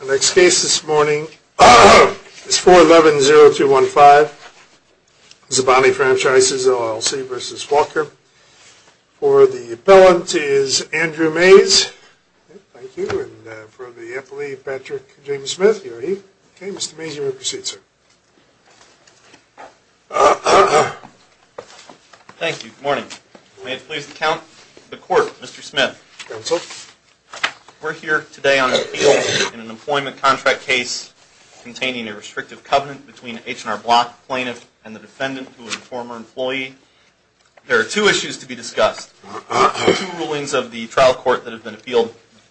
The next case this morning is 411-0215, Zabaneh Franchises LLC v. Walker. For the appellant is Andrew Mays. Thank you. And for the appellee, Patrick James Smith. Okay, Mr. Mays, you may proceed, sir. Thank you. Good morning. May it please the Court, Mr. Smith. Counsel. We're here today on appeal in an employment contract case containing a restrictive covenant between an H&R Block plaintiff and the defendant, who is a former employee. There are two issues to be discussed. There are two rulings of the trial court that have been appealed.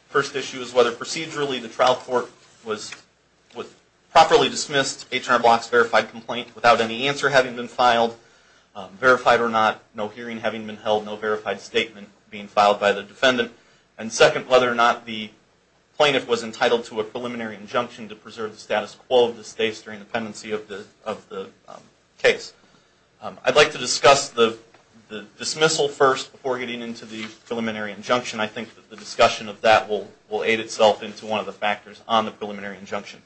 First issue is whether procedurally the trial court was properly dismissed H&R Block's verified complaint without any answer having been filed, verified or not, no hearing having been held, no verified statement being filed by the defendant. And second, whether or not the plaintiff was entitled to a preliminary injunction to preserve the status quo of the states during the pendency of the case. I'd like to discuss the dismissal first before getting into the preliminary injunction. I think that the discussion of that will aid itself into one of the factors on the preliminary injunction.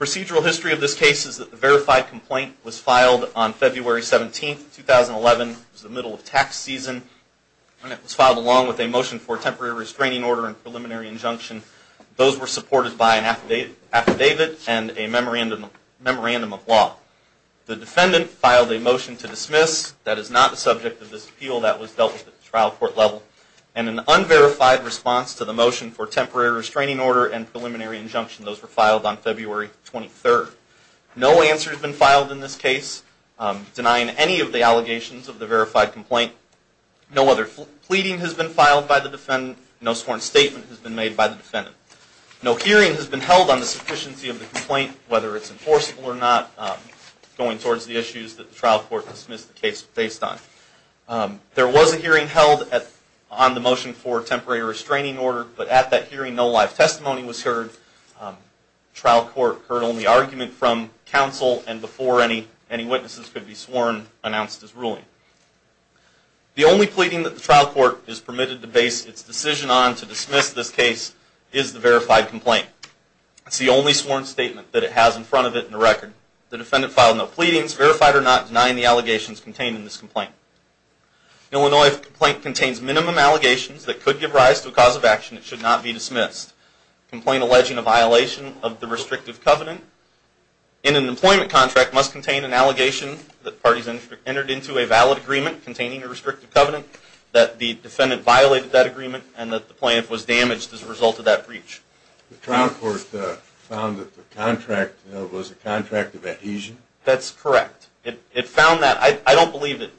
Procedural history of this case is that the verified complaint was filed on February 17, 2011. It was the middle of tax season. And it was filed along with a motion for temporary restraining order and preliminary injunction. Those were supported by an affidavit and a memorandum of law. The defendant filed a motion to dismiss. That is not the subject of this appeal. That was dealt with at the trial court level. And an unverified response to the motion for temporary restraining order and preliminary injunction. Those were filed on February 23. No answer has been filed in this case denying any of the allegations of the verified complaint. No other pleading has been filed by the defendant. No sworn statement has been made by the defendant. No hearing has been held on the sufficiency of the complaint, whether it's enforceable or not, going towards the issues that the trial court dismissed the case based on. There was a hearing held on the motion for temporary restraining order, but at that hearing no live testimony was heard. The trial court heard only argument from counsel, and before any witnesses could be sworn, announced his ruling. The only pleading that the trial court is permitted to base its decision on to dismiss this case is the verified complaint. It's the only sworn statement that it has in front of it in the record. The defendant filed no pleadings, verified or not, denying the allegations contained in this complaint. An Illinois complaint contains minimum allegations that could give rise to a cause of action. It should not be dismissed. Complaint alleging a violation of the restrictive covenant in an employment contract must contain an allegation that parties entered into a valid agreement containing a restrictive covenant, that the defendant violated that agreement, and that the plaintiff was damaged as a result of that breach. The trial court found that the contract was a contract of adhesion? That's correct. It found that. I don't believe it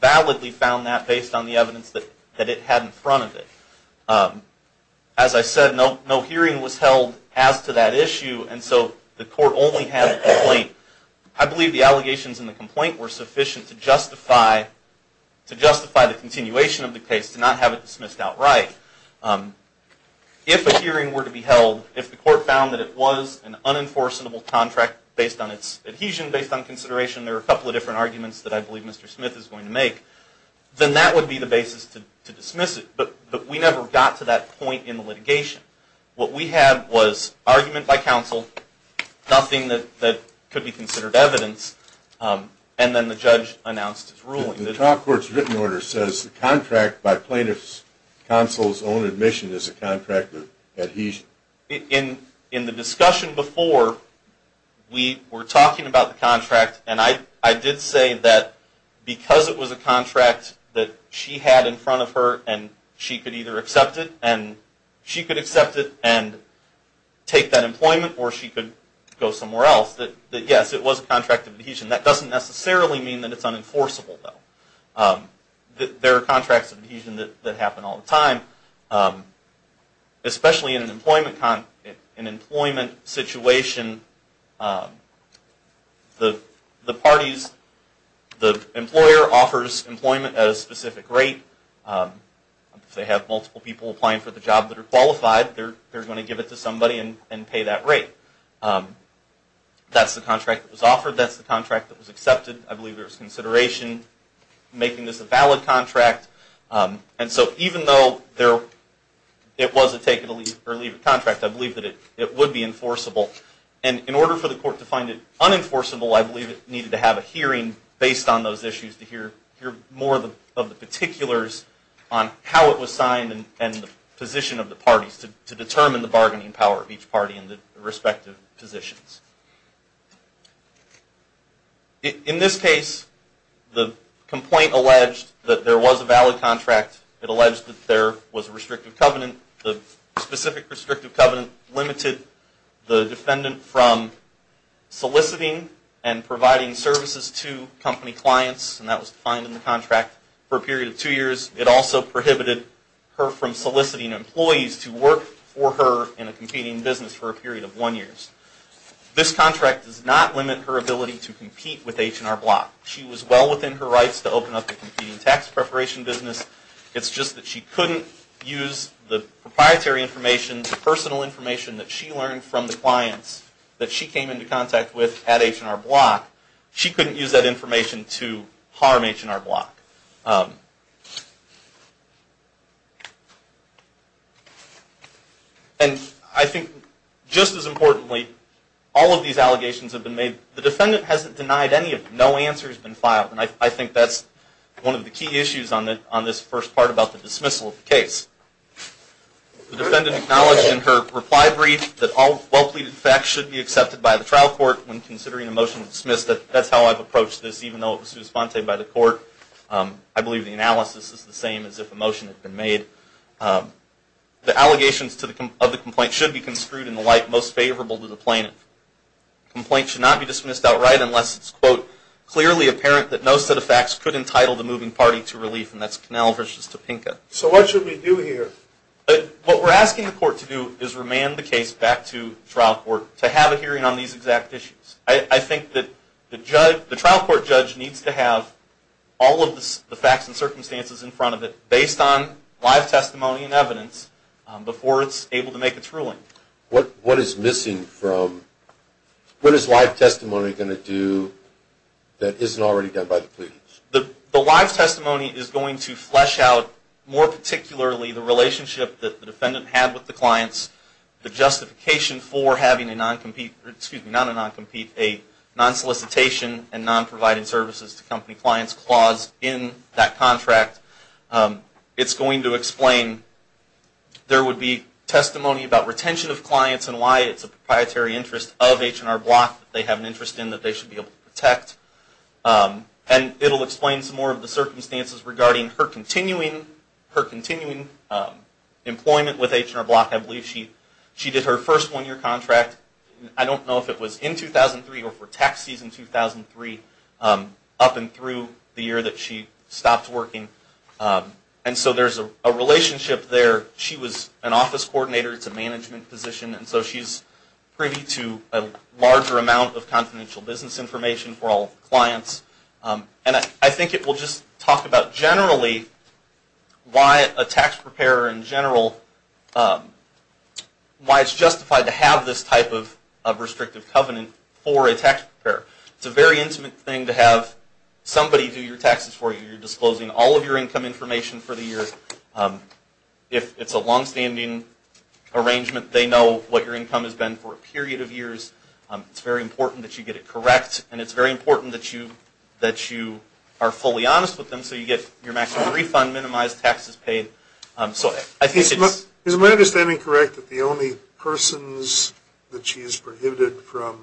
validly found that based on the evidence that it had in front of it. As I said, no hearing was held as to that issue, and so the court only had a complaint. I believe the allegations in the complaint were sufficient to justify the continuation of the case, to not have it dismissed outright. If a hearing were to be held, if the court found that it was an unenforceable contract based on its adhesion, based on consideration, there are a couple of different arguments that I believe Mr. Smith is going to make, then that would be the basis to dismiss it, but we never got to that point in the litigation. What we had was argument by counsel, nothing that could be considered evidence, and then the judge announced his ruling. The trial court's written order says the contract by plaintiff's counsel's own admission is a contract of adhesion. In the discussion before, we were talking about the contract, and I did say that because it was a contract that she had in front of her, and she could either accept it, and she could accept it and take that employment, or she could go somewhere else, that yes, it was a contract of adhesion. That doesn't necessarily mean that it's unenforceable, though. There are contracts of adhesion that happen all the time, especially in an employment situation. The parties, the employer offers employment at a specific rate. If they have multiple people applying for the job that are qualified, they're going to give it to somebody and pay that rate. That's the contract that was offered, that's the contract that was accepted. I believe there was consideration making this a valid contract, and so even though it was a take it or leave it contract, I believe that it would be enforceable. In order for the court to find it unenforceable, I believe it needed to have a hearing based on those issues to hear more of the particulars on how it was signed and the position of the parties to determine the bargaining power of each party and the respective positions. In this case, the complaint alleged that there was a valid contract. It alleged that there was a restrictive covenant. The specific restrictive covenant limited the defendant from soliciting and providing services to company clients, and that was defined in the contract, for a period of two years. It also prohibited her from soliciting employees to work for her in a competing business for a period of one year. This contract does not limit her ability to compete with H&R Block. She was well within her rights to open up a competing tax preparation business. It's just that she couldn't use the proprietary information, the personal information that she learned from the clients that she came into contact with at H&R Block. She couldn't use that information to harm H&R Block. And I think just as importantly, all of these allegations have been made. The defendant hasn't denied any of them. No answer has been filed, and I think that's one of the key issues on this first part about the dismissal of the case. The defendant acknowledged in her reply brief that all well-pleaded facts should be accepted by the trial court when considering a motion to dismiss. That's how I've approached this, even though it was responded by the court. I believe the analysis is the same as if a motion had been made. The allegations of the complaint should be construed in the light most favorable to the plaintiff. Complaint should not be dismissed outright unless it's, quote, clearly apparent that no set of facts could entitle the moving party to relief, and that's Connell v. Topenka. So what should we do here? What we're asking the court to do is remand the case back to trial court to have a hearing on these exact issues. I think that the trial court judge needs to have all of the facts and circumstances in front of it based on live testimony and evidence before it's able to make its ruling. What is missing from, what is live testimony going to do that isn't already done by the plaintiffs? The live testimony is going to flesh out, more particularly, the relationship that the defendant had with the clients, the justification for having a non-compete, excuse me, not a non-compete, a non-solicitation and non-providing services to company clients clause in that contract. It's going to explain, there would be testimony about retention of clients and why it's a proprietary interest of H&R Block that they have an interest in that they should be able to protect. And it'll explain some more of the circumstances regarding her continuing employment with H&R Block. I believe she did her first one-year contract, I don't know if it was in 2003 or for tax season 2003, up and through the year that she stopped working. And so there's a relationship there. She was an office coordinator, it's a management position, and so she's privy to a larger amount of confidential business information for all clients. And I think it will just talk about generally why a tax preparer in general, why it's justified to have this type of restrictive covenant for a tax preparer. It's a very intimate thing to have somebody do your taxes for you. You're disclosing all of your income information for the year. If it's a long-standing arrangement, they know what your income has been for a period of years. It's very important that you get it correct, and it's very important that you are fully honest with them so you get your maximum refund minimized, taxes paid. Is my understanding correct that the only persons that she's prohibited from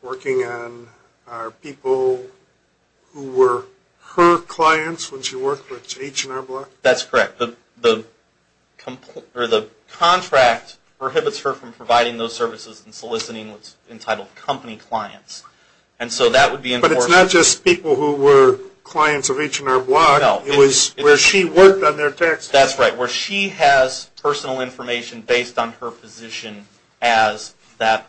working on are people who were her clients when she worked with H&R Block? That's correct. The contract prohibits her from providing those services and soliciting what's entitled company clients. But it's not just people who were clients of H&R Block. It was where she worked on their taxes. That's right. Where she has personal information based on her position as that,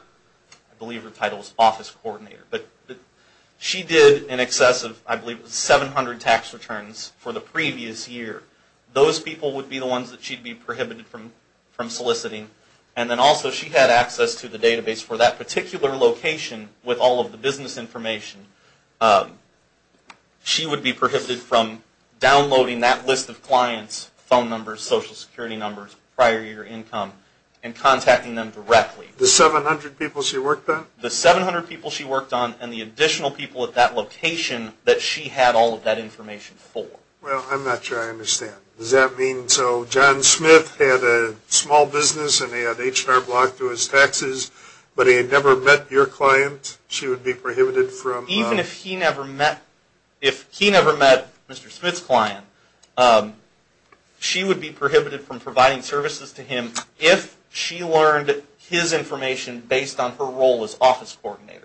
I believe her title was office coordinator. But she did in excess of, I believe it was 700 tax returns for the previous year. Those people would be the ones that she'd be prohibited from soliciting. And then also she had access to the database for that particular location with all of the business information. She would be prohibited from downloading that list of clients, phone numbers, social security numbers, prior year income, and contacting them directly. The 700 people she worked on? The 700 people she worked on and the additional people at that location that she had all of that information for. Well, I'm not sure I understand. Does that mean, so John Smith had a small business and he had H&R Block to his taxes, but he had never met your client? Even if he never met Mr. Smith's client, she would be prohibited from providing services to him if she learned his information based on her role as office coordinator.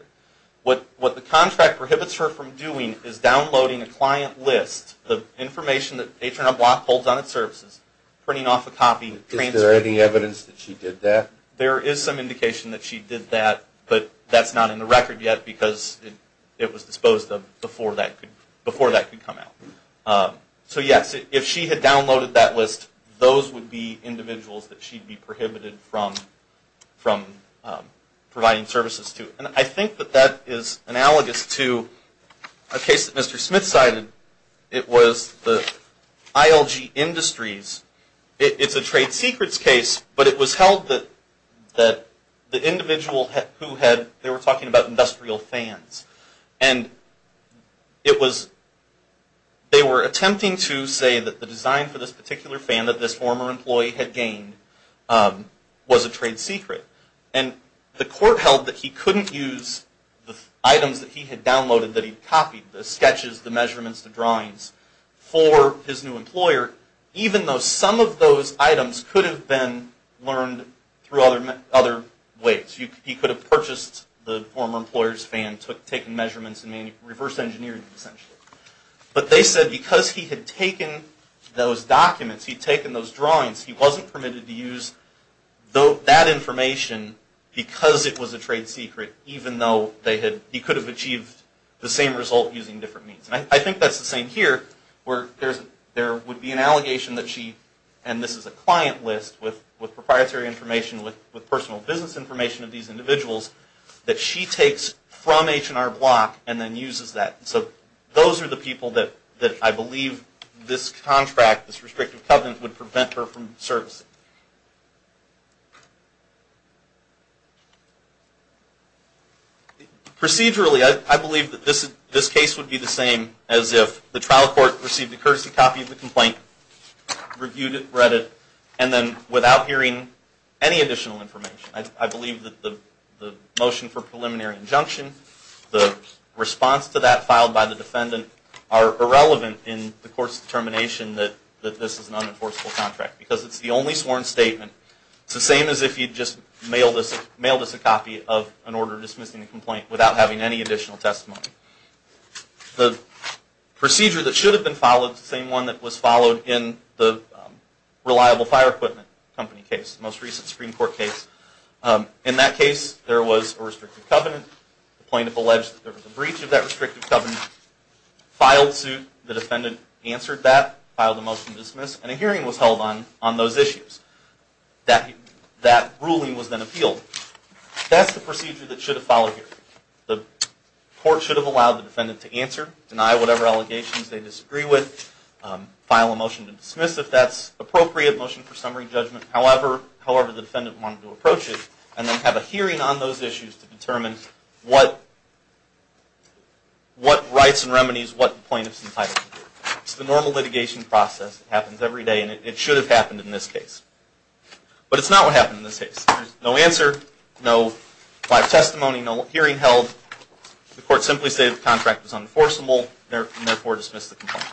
What the contract prohibits her from doing is downloading a client list, the information that H&R Block holds on its services, printing off a copy, Is there any evidence that she did that? There is some indication that she did that, but that's not in the record yet because it was disposed of before that could come out. So yes, if she had downloaded that list, those would be individuals that she'd be prohibited from providing services to. And I think that that is analogous to a case that Mr. Smith cited. It was the ILG Industries. It's a trade secrets case, but it was held that the individual who had, they were talking about industrial fans. And it was, they were attempting to say that the design for this particular fan that this former employee had gained was a trade secret. And the court held that he couldn't use the items that he had downloaded, that he'd copied, the sketches, the measurements, the drawings, for his new employer, even though some of those items could have been learned through other ways. He could have purchased the former employer's fan, taken measurements and reverse engineered it essentially. But they said because he had taken those documents, he'd taken those drawings, he wasn't permitted to use that information because it was a trade secret, even though he could have achieved the same result using different means. And I think that's the same here where there would be an allegation that she, and this is a client list with proprietary information, with personal business information of these individuals, that she takes from H&R Block and then uses that. So those are the people that I believe this contract, this restrictive covenant, would prevent her from servicing. Procedurally, I believe that this case would be the same as if the trial court received a courtesy copy of the complaint, reviewed it, read it, and then without hearing any additional information. I believe that the motion for preliminary injunction, the response to that filed by the defendant, are irrelevant in the court's determination that this is an unenforceable contract because it's the only sworn statement. It's the same as if you just mailed us a copy of an order dismissing the complaint without having any additional testimony. The procedure that should have been followed is the same one that was followed in the reliable fire equipment company case, the most recent Supreme Court case. In that case, there was a restrictive covenant. The plaintiff alleged that there was a breach of that restrictive covenant. Filed suit, the defendant answered that, filed a motion to dismiss, and a hearing was held on those issues. That ruling was then appealed. That's the procedure that should have followed here. The court should have allowed the defendant to answer, deny whatever allegations they disagree with, file a motion to dismiss if that's appropriate, motion for summary judgment, however the defendant wanted to approach it, and then have a hearing on those issues to determine what rights and remedies what plaintiff's entitled to. It's the normal litigation process that happens every day, and it should have happened in this case. But it's not what happened in this case. No answer, no live testimony, no hearing held. The court simply stated the contract was unenforceable and therefore dismissed the complaint.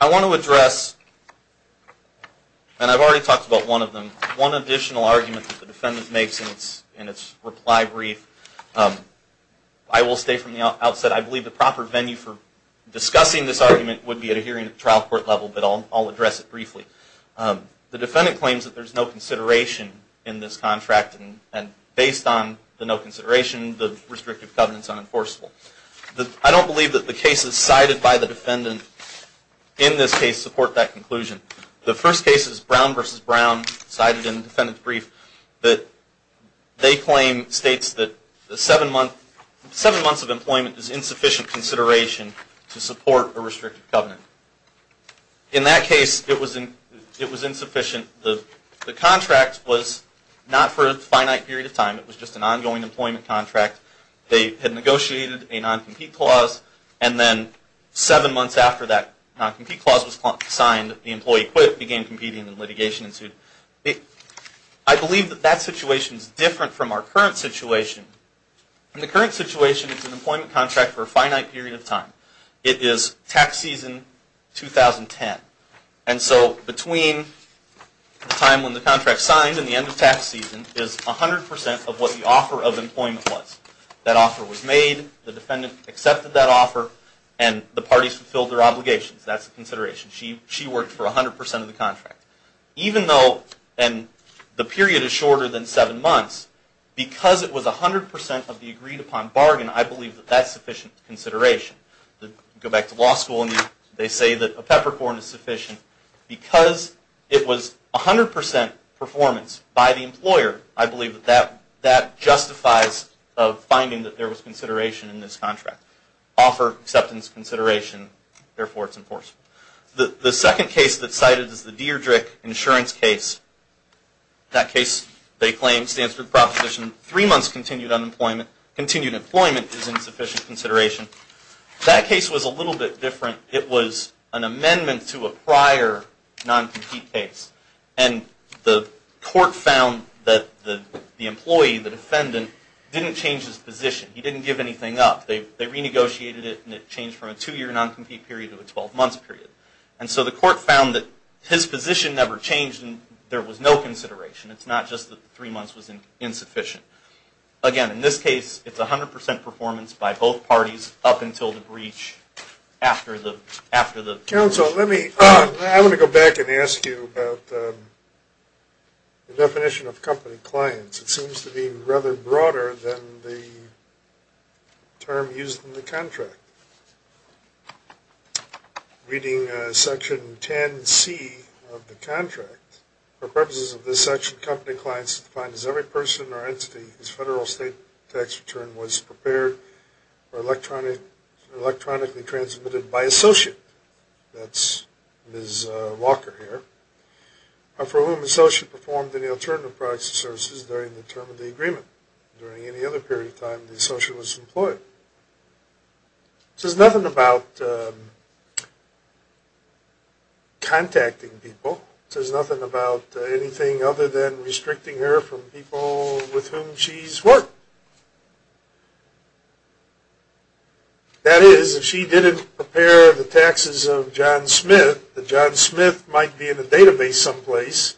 I want to address, and I've already talked about one of them, one additional argument that the defendant makes in its reply brief. I will stay from the outset. I believe the proper venue for discussing this argument would be at a hearing at the trial court level, but I'll address it briefly. The defendant claims that there's no consideration in this contract, and based on the no consideration, the restrictive covenant is unenforceable. I don't believe that the cases cited by the defendant in this case support that conclusion. The first case is Brown v. Brown, cited in the defendant's brief, that they claim states that seven months of employment is insufficient consideration to support a restrictive covenant. In that case, it was insufficient. The contract was not for a finite period of time. It was just an ongoing employment contract. They had negotiated a non-compete clause, and then seven months after that non-compete clause was signed, the employee quit, began competing, and litigation ensued. I believe that that situation is different from our current situation. In the current situation, it's an employment contract for a finite period of time. It is tax season 2010, and so between the time when the contract signed and the end of tax season is 100% of what the offer of employment was. That offer was made, the defendant accepted that offer, and the parties fulfilled their obligations. That's a consideration. She worked for 100% of the contract. Even though the period is shorter than seven months, because it was 100% of the agreed upon bargain, I believe that that's sufficient consideration. Go back to law school, and they say that a peppercorn is sufficient. Because it was 100% performance by the employer, I believe that that justifies finding that there was consideration in this contract. Offer, acceptance, consideration, therefore it's enforceable. The second case that's cited is the Dierdrich insurance case. That case, they claim, stands for proposition, three months continued employment is insufficient consideration. That case was a little bit different. It was an amendment to a prior non-compete case, and the court found that the employee, the defendant, didn't change his position. He didn't give anything up. They renegotiated it, and it changed from a two-year non-compete period to a 12-month period. And so the court found that his position never changed, and there was no consideration. It's not just that three months was insufficient. Again, in this case, it's 100% performance by both parties up until the breach after the breach. Counsel, let me go back and ask you about the definition of company clients. It seems to be rather broader than the term used in the contract. Reading Section 10C of the contract, for purposes of this section company clients is defined as every person or entity whose federal state tax return was prepared or electronically transmitted by associate, that's Ms. Walker here, for whom the associate performed any alternative products or services during the term of the agreement. During any other period of time, the associate was employed. It says nothing about contacting people. It says nothing about anything other than restricting her from people with whom she's worked. That is, if she didn't prepare the taxes of John Smith, the John Smith might be in the database someplace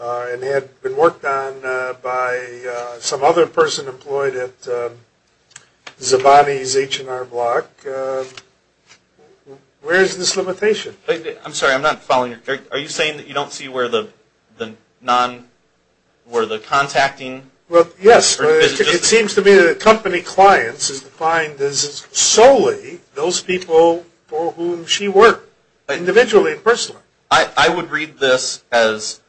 and had been worked on by some other person employed at Zabani's H&R Block. Where is this limitation? I'm sorry, I'm not following you. Are you saying that you don't see where the contacting? Yes. It seems to me that company clients is defined as solely those people for whom she worked, individually and personally. I would read this as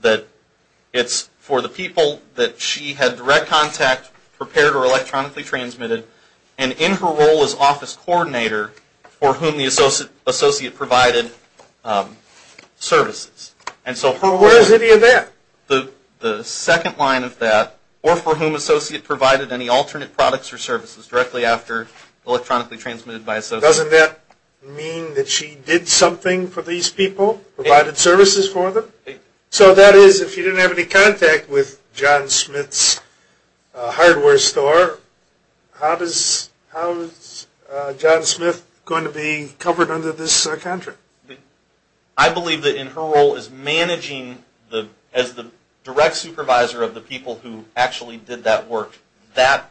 that it's for the people that she had direct contact, prepared or electronically transmitted, and in her role as office coordinator for whom the associate provided services. Where is any of that? The second line of that, or for whom associate provided any alternate products or services directly after electronically transmitted by associate. Doesn't that mean that she did something for these people, provided services for them? So that is, if she didn't have any contact with John Smith's hardware store, how is John Smith going to be covered under this contract? I believe that in her role as managing, as the direct supervisor of the people who actually did that work, that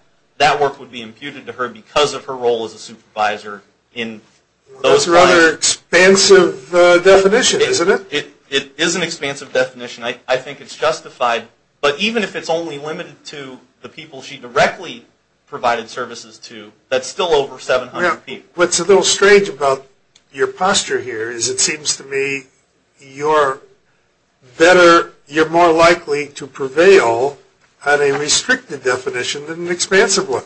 work would be imputed to her because of her role as a supervisor. That's a rather expansive definition, isn't it? It is an expansive definition. I think it's justified. But even if it's only limited to the people she directly provided services to, that's still over 700 people. What's a little strange about your posture here is it seems to me you're better, you're more likely to prevail on a restricted definition than an expansive one.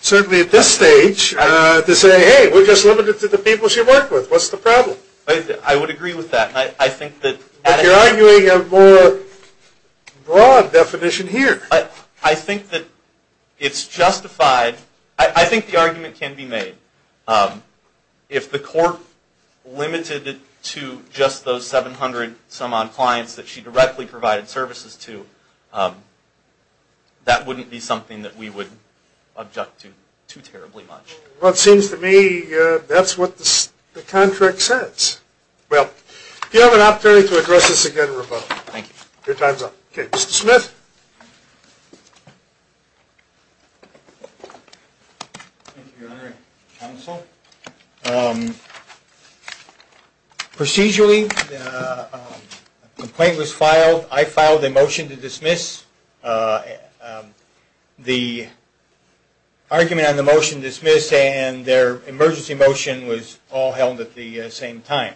Certainly at this stage to say, hey, we're just limited to the people she worked with. What's the problem? I would agree with that. But you're arguing a more broad definition here. I think that it's justified. I think the argument can be made. If the court limited it to just those 700-some-odd clients that she directly provided services to, that wouldn't be something that we would object to too terribly much. Well, it seems to me that's what the contract says. Well, if you have an opportunity to address this again, Roboto. Thank you. Your time's up. Okay, Mr. Smith. Procedurally, the complaint was filed. I filed a motion to dismiss. The argument on the motion dismissed and their emergency motion was all held at the same time.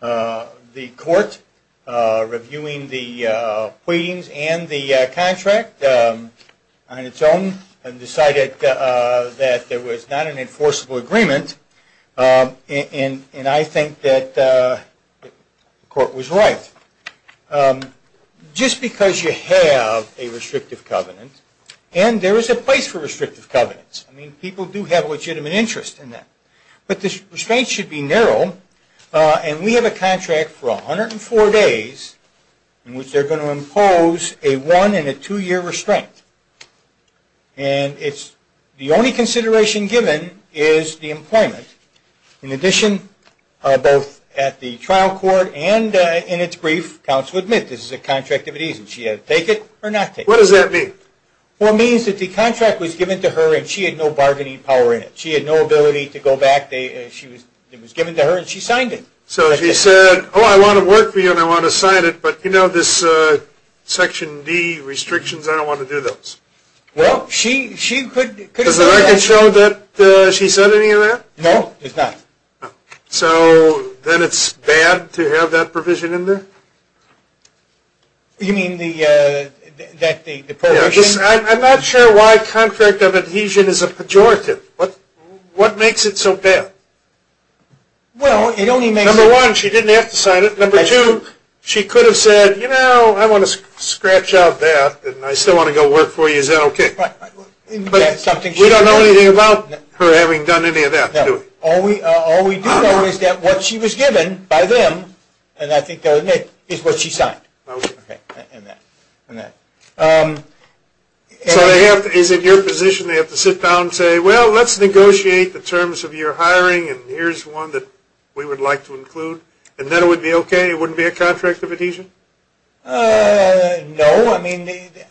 The court, reviewing the pleadings and the contract on its own, decided that there was not an enforceable agreement. And I think that the court was right. Just because you have a restrictive covenant, and there is a place for restrictive covenants. I mean, people do have legitimate interest in that. But the restraints should be narrow. And we have a contract for 104 days in which they're going to impose a one- and a two-year restraint. And the only consideration given is the employment. In addition, both at the trial court and in its brief, counsel admits this is a contract of it easy. She had to take it or not take it. What does that mean? Well, it means that the contract was given to her, and she had no bargaining power in it. She had no ability to go back. It was given to her, and she signed it. So she said, oh, I want to work for you, and I want to sign it, but you know this Section D restrictions, I don't want to do those. Well, she could have done that. Did she show that she said any of that? No, she did not. So then it's bad to have that provision in there? You mean that the provision? I'm not sure why contract of adhesion is a pejorative. What makes it so bad? Well, it only makes it – Number one, she didn't have to sign it. Number two, she could have said, you know, I want to scratch out that, and I still want to go work for you. Is that okay? We don't know anything about her having done any of that, do we? All we do know is that what she was given by them, and I think they'll admit, is what she signed. Okay. And that. So is it your position they have to sit down and say, well, let's negotiate the terms of your hiring, and here's one that we would like to include, and then it would be okay? It wouldn't be a contract of adhesion? No. No, I mean,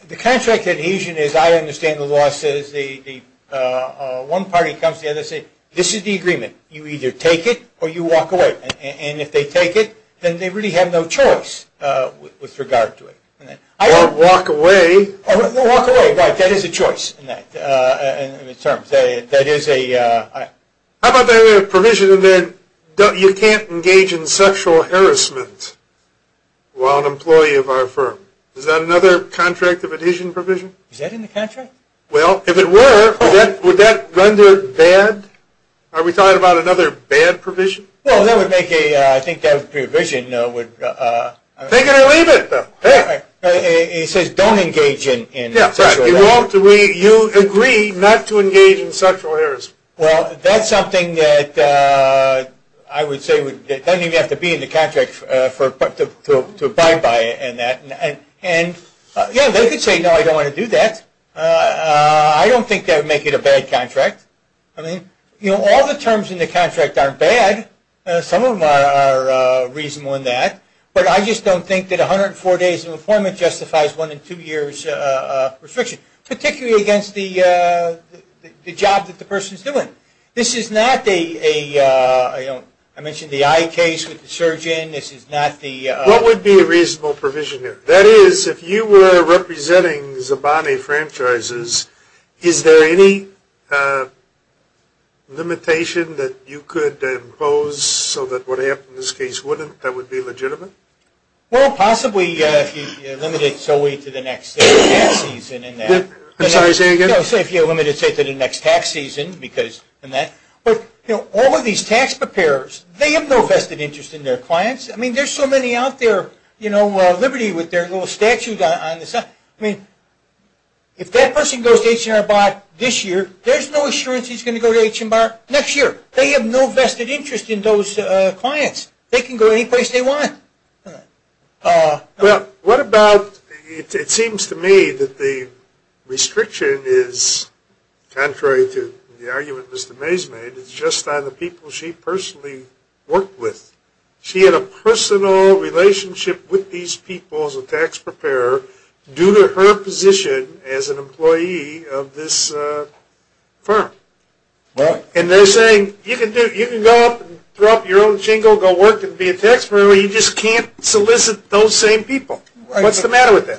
the contract of adhesion is, I understand the law says, one party comes together and says, this is the agreement. You either take it or you walk away. And if they take it, then they really have no choice with regard to it. Or walk away. Or walk away. Right. That is a choice in terms. That is a – How about the provision that you can't engage in sexual harassment while an employee of our firm? Is that another contract of adhesion provision? Is that in the contract? Well, if it were, would that render bad? Are we talking about another bad provision? Well, that would make a – I think that provision would – Take it or leave it. It says don't engage in sexual harassment. You agree not to engage in sexual harassment. Well, that's something that I would say doesn't even have to be in the contract to abide by. And, yeah, they could say, no, I don't want to do that. I don't think that would make it a bad contract. I mean, you know, all the terms in the contract aren't bad. Some of them are reasonable in that. But I just don't think that 104 days of employment justifies one in two years restriction, particularly against the job that the person is doing. This is not a – I mentioned the eye case with the surgeon. This is not the – What would be a reasonable provision here? That is, if you were representing Zabani franchises, is there any limitation that you could impose so that what happened in this case wouldn't? That would be legitimate? Well, possibly if you limited it to the next tax season. I'm sorry, say it again. Say if you limited it to the next tax season because of that. But, you know, all of these tax preparers, they have no vested interest in their clients. I mean, there's so many out there, you know, Liberty with their little statue on the side. I mean, if that person goes to H&R Block this year, there's no assurance he's going to go to H&R next year. They have no vested interest in those clients. They can go any place they want. Well, what about – it seems to me that the restriction is contrary to the argument Mr. Mays made. It's just on the people she personally worked with. She had a personal relationship with these people as a tax preparer due to her position as an employee of this firm. And they're saying you can go up and throw up your own shingle, go work and be a tax preparer, you just can't solicit those same people. What's the matter with that?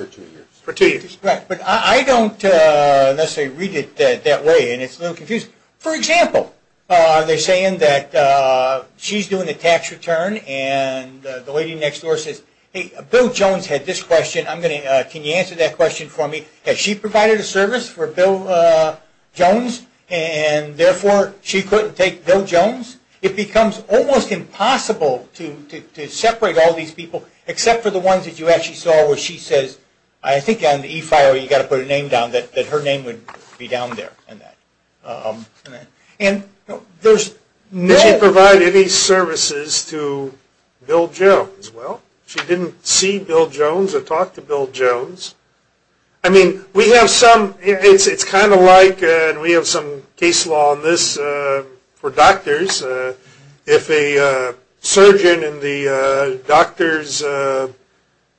For two years. Right, but I don't necessarily read it that way and it's a little confusing. For example, they're saying that she's doing a tax return and the lady next door says, hey, Bill Jones had this question, can you answer that question for me? Has she provided a service for Bill Jones and therefore she couldn't take Bill Jones? It becomes almost impossible to separate all these people except for the ones that you actually saw where she says, I think on the e-file you've got to put a name down that her name would be down there. And there's no – Did she provide any services to Bill Jones? Well, she didn't see Bill Jones or talk to Bill Jones. I mean, we have some – it's kind of like – and we have some case law on this for doctors. If a surgeon in the doctor's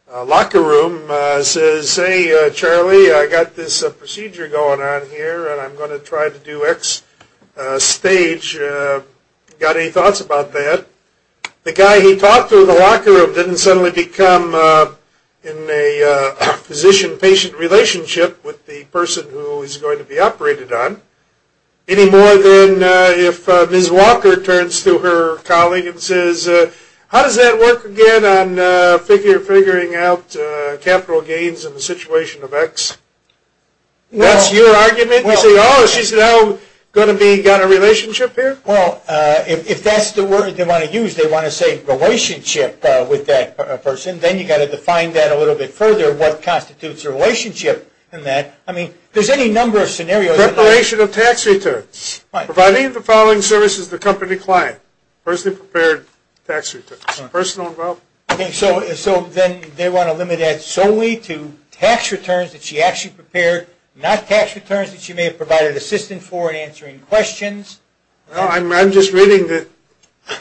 locker room says, hey, Charlie, I've got this procedure going on here and I'm going to try to do X stage, got any thoughts about that? The guy he talked to in the locker room didn't suddenly become in a physician-patient relationship with the person who he's going to be operated on, any more than if Ms. Walker turns to her colleague and says, how does that work again on figuring out capital gains in the situation of X? That's your argument? You say, oh, she's now going to be – got a relationship here? Well, if that's the word they want to use, they want to say relationship with that person, then you've got to define that a little bit further, what constitutes a relationship in that. I mean, there's any number of scenarios. Preparation of tax returns. Providing the following services to the company client. Personally prepared tax returns. Personal involvement. So then they want to limit that solely to tax returns that she actually prepared, not tax returns that she may have provided assistance for in answering questions. I'm just reading the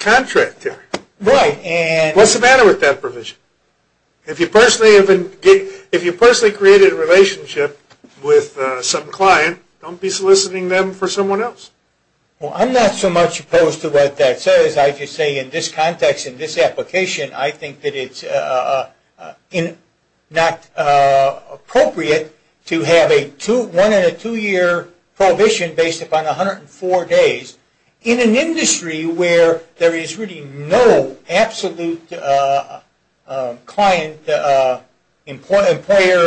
contract there. Right. What's the matter with that provision? If you personally created a relationship with some client, don't be soliciting them for someone else. Well, I'm not so much opposed to what that says. As I just say, in this context, in this application, I think that it's not appropriate to have a one- and a two-year provision based upon 104 days in an industry where there is really no absolute client-employer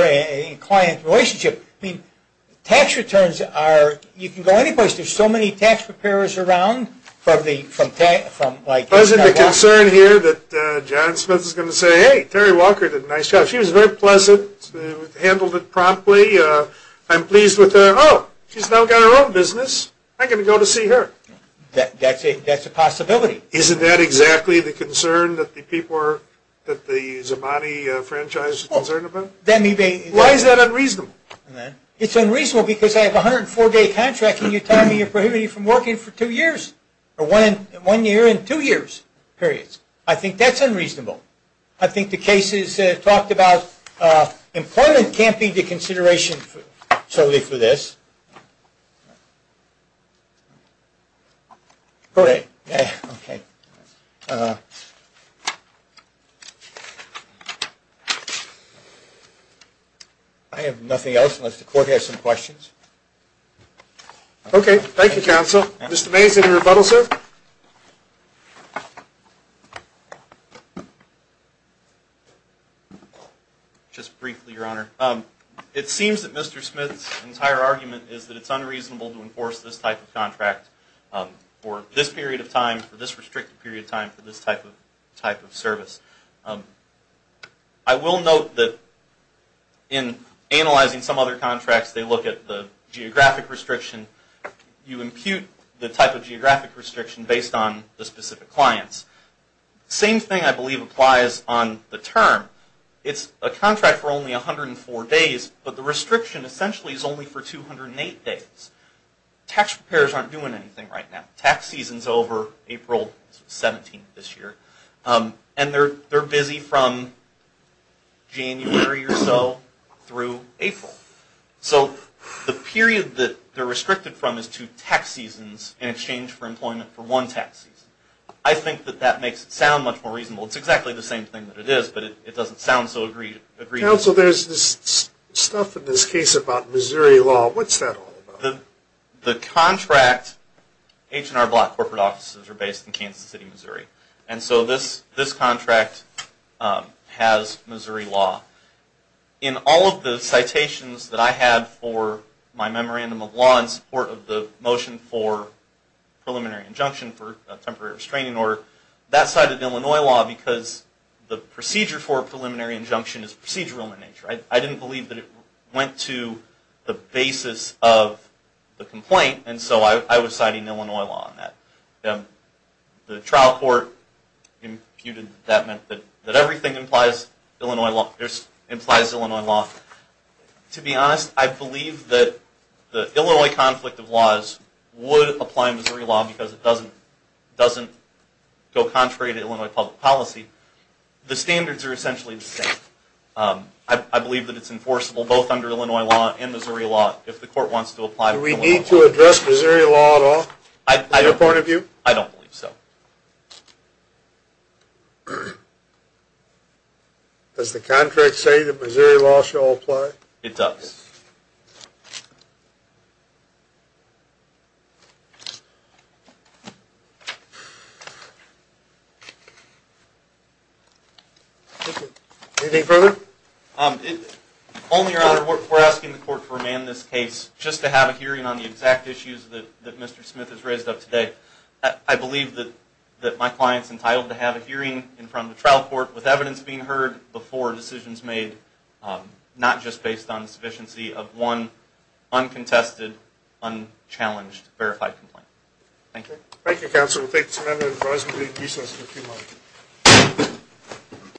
and client relationship. I mean, tax returns are – you can go anyplace. There's so many tax preparers around. Isn't it a concern here that John Smith is going to say, hey, Terry Walker did a nice job. She was very pleasant. Handled it promptly. I'm pleased with her. Oh, she's now got her own business. I'm going to go to see her. That's a possibility. Isn't that exactly the concern that the Zamboni franchise is concerned about? Why is that unreasonable? It's unreasonable because I have a 104-day contract, and you're telling me you're prohibiting me from working for two years, or one year and two years, period. I think that's unreasonable. I think the cases talked about employment can't be the consideration solely for this. Okay. I have nothing else unless the Court has some questions. Okay. Thank you, Counsel. Mr. Mays, any rebuttal, sir? Just briefly, Your Honor. It seems that Mr. Smith's entire argument is that it's unreasonable to enforce this type of contract for this period of time, for this restricted period of time, for this type of service. I will note that in analyzing some other contracts, they look at the geographic restriction. You impute the type of geographic restriction based on the specific clients. Same thing, I believe, applies on the term. It's a contract for only 104 days, but the restriction essentially is only for 208 days. Tax preparers aren't doing anything right now. Tax season's over April 17th this year, and they're busy from January or so through April. So the period that they're restricted from is two tax seasons in exchange for employment for one tax season. I think that that makes it sound much more reasonable. It's exactly the same thing that it is, but it doesn't sound so agreeable. Counsel, there's this stuff in this case about Missouri law. What's that all about? The contract, H&R Block corporate offices are based in Kansas City, Missouri, and so this contract has Missouri law. In all of the citations that I had for my memorandum of law in support of the motion for preliminary injunction for a temporary restraining order, that cited Illinois law because the procedure for a preliminary injunction is procedural in nature. I didn't believe that it went to the basis of the complaint, and so I was citing Illinois law on that. The trial court imputed that that meant that everything implies Illinois law. To be honest, I believe that the Illinois conflict of laws would apply Missouri law because it doesn't go contrary to Illinois public policy. The standards are essentially the same. I believe that it's enforceable both under Illinois law and Missouri law if the court wants to apply Illinois law. Do we need to address Missouri law at all from your point of view? I don't believe so. Does the contract say that Missouri law shall apply? It does. Anything further? Only, Your Honor, we're asking the court to remand this case just to have a hearing on the exact issues that Mr. Smith has raised up today. I believe that my client's entitled to have a hearing in front of the trial court with evidence being heard before decisions made, not just based on the sufficiency of one uncontested, unchallenged, verified complaint. Thank you. Thank you, counsel. We'll take just a minute of your time.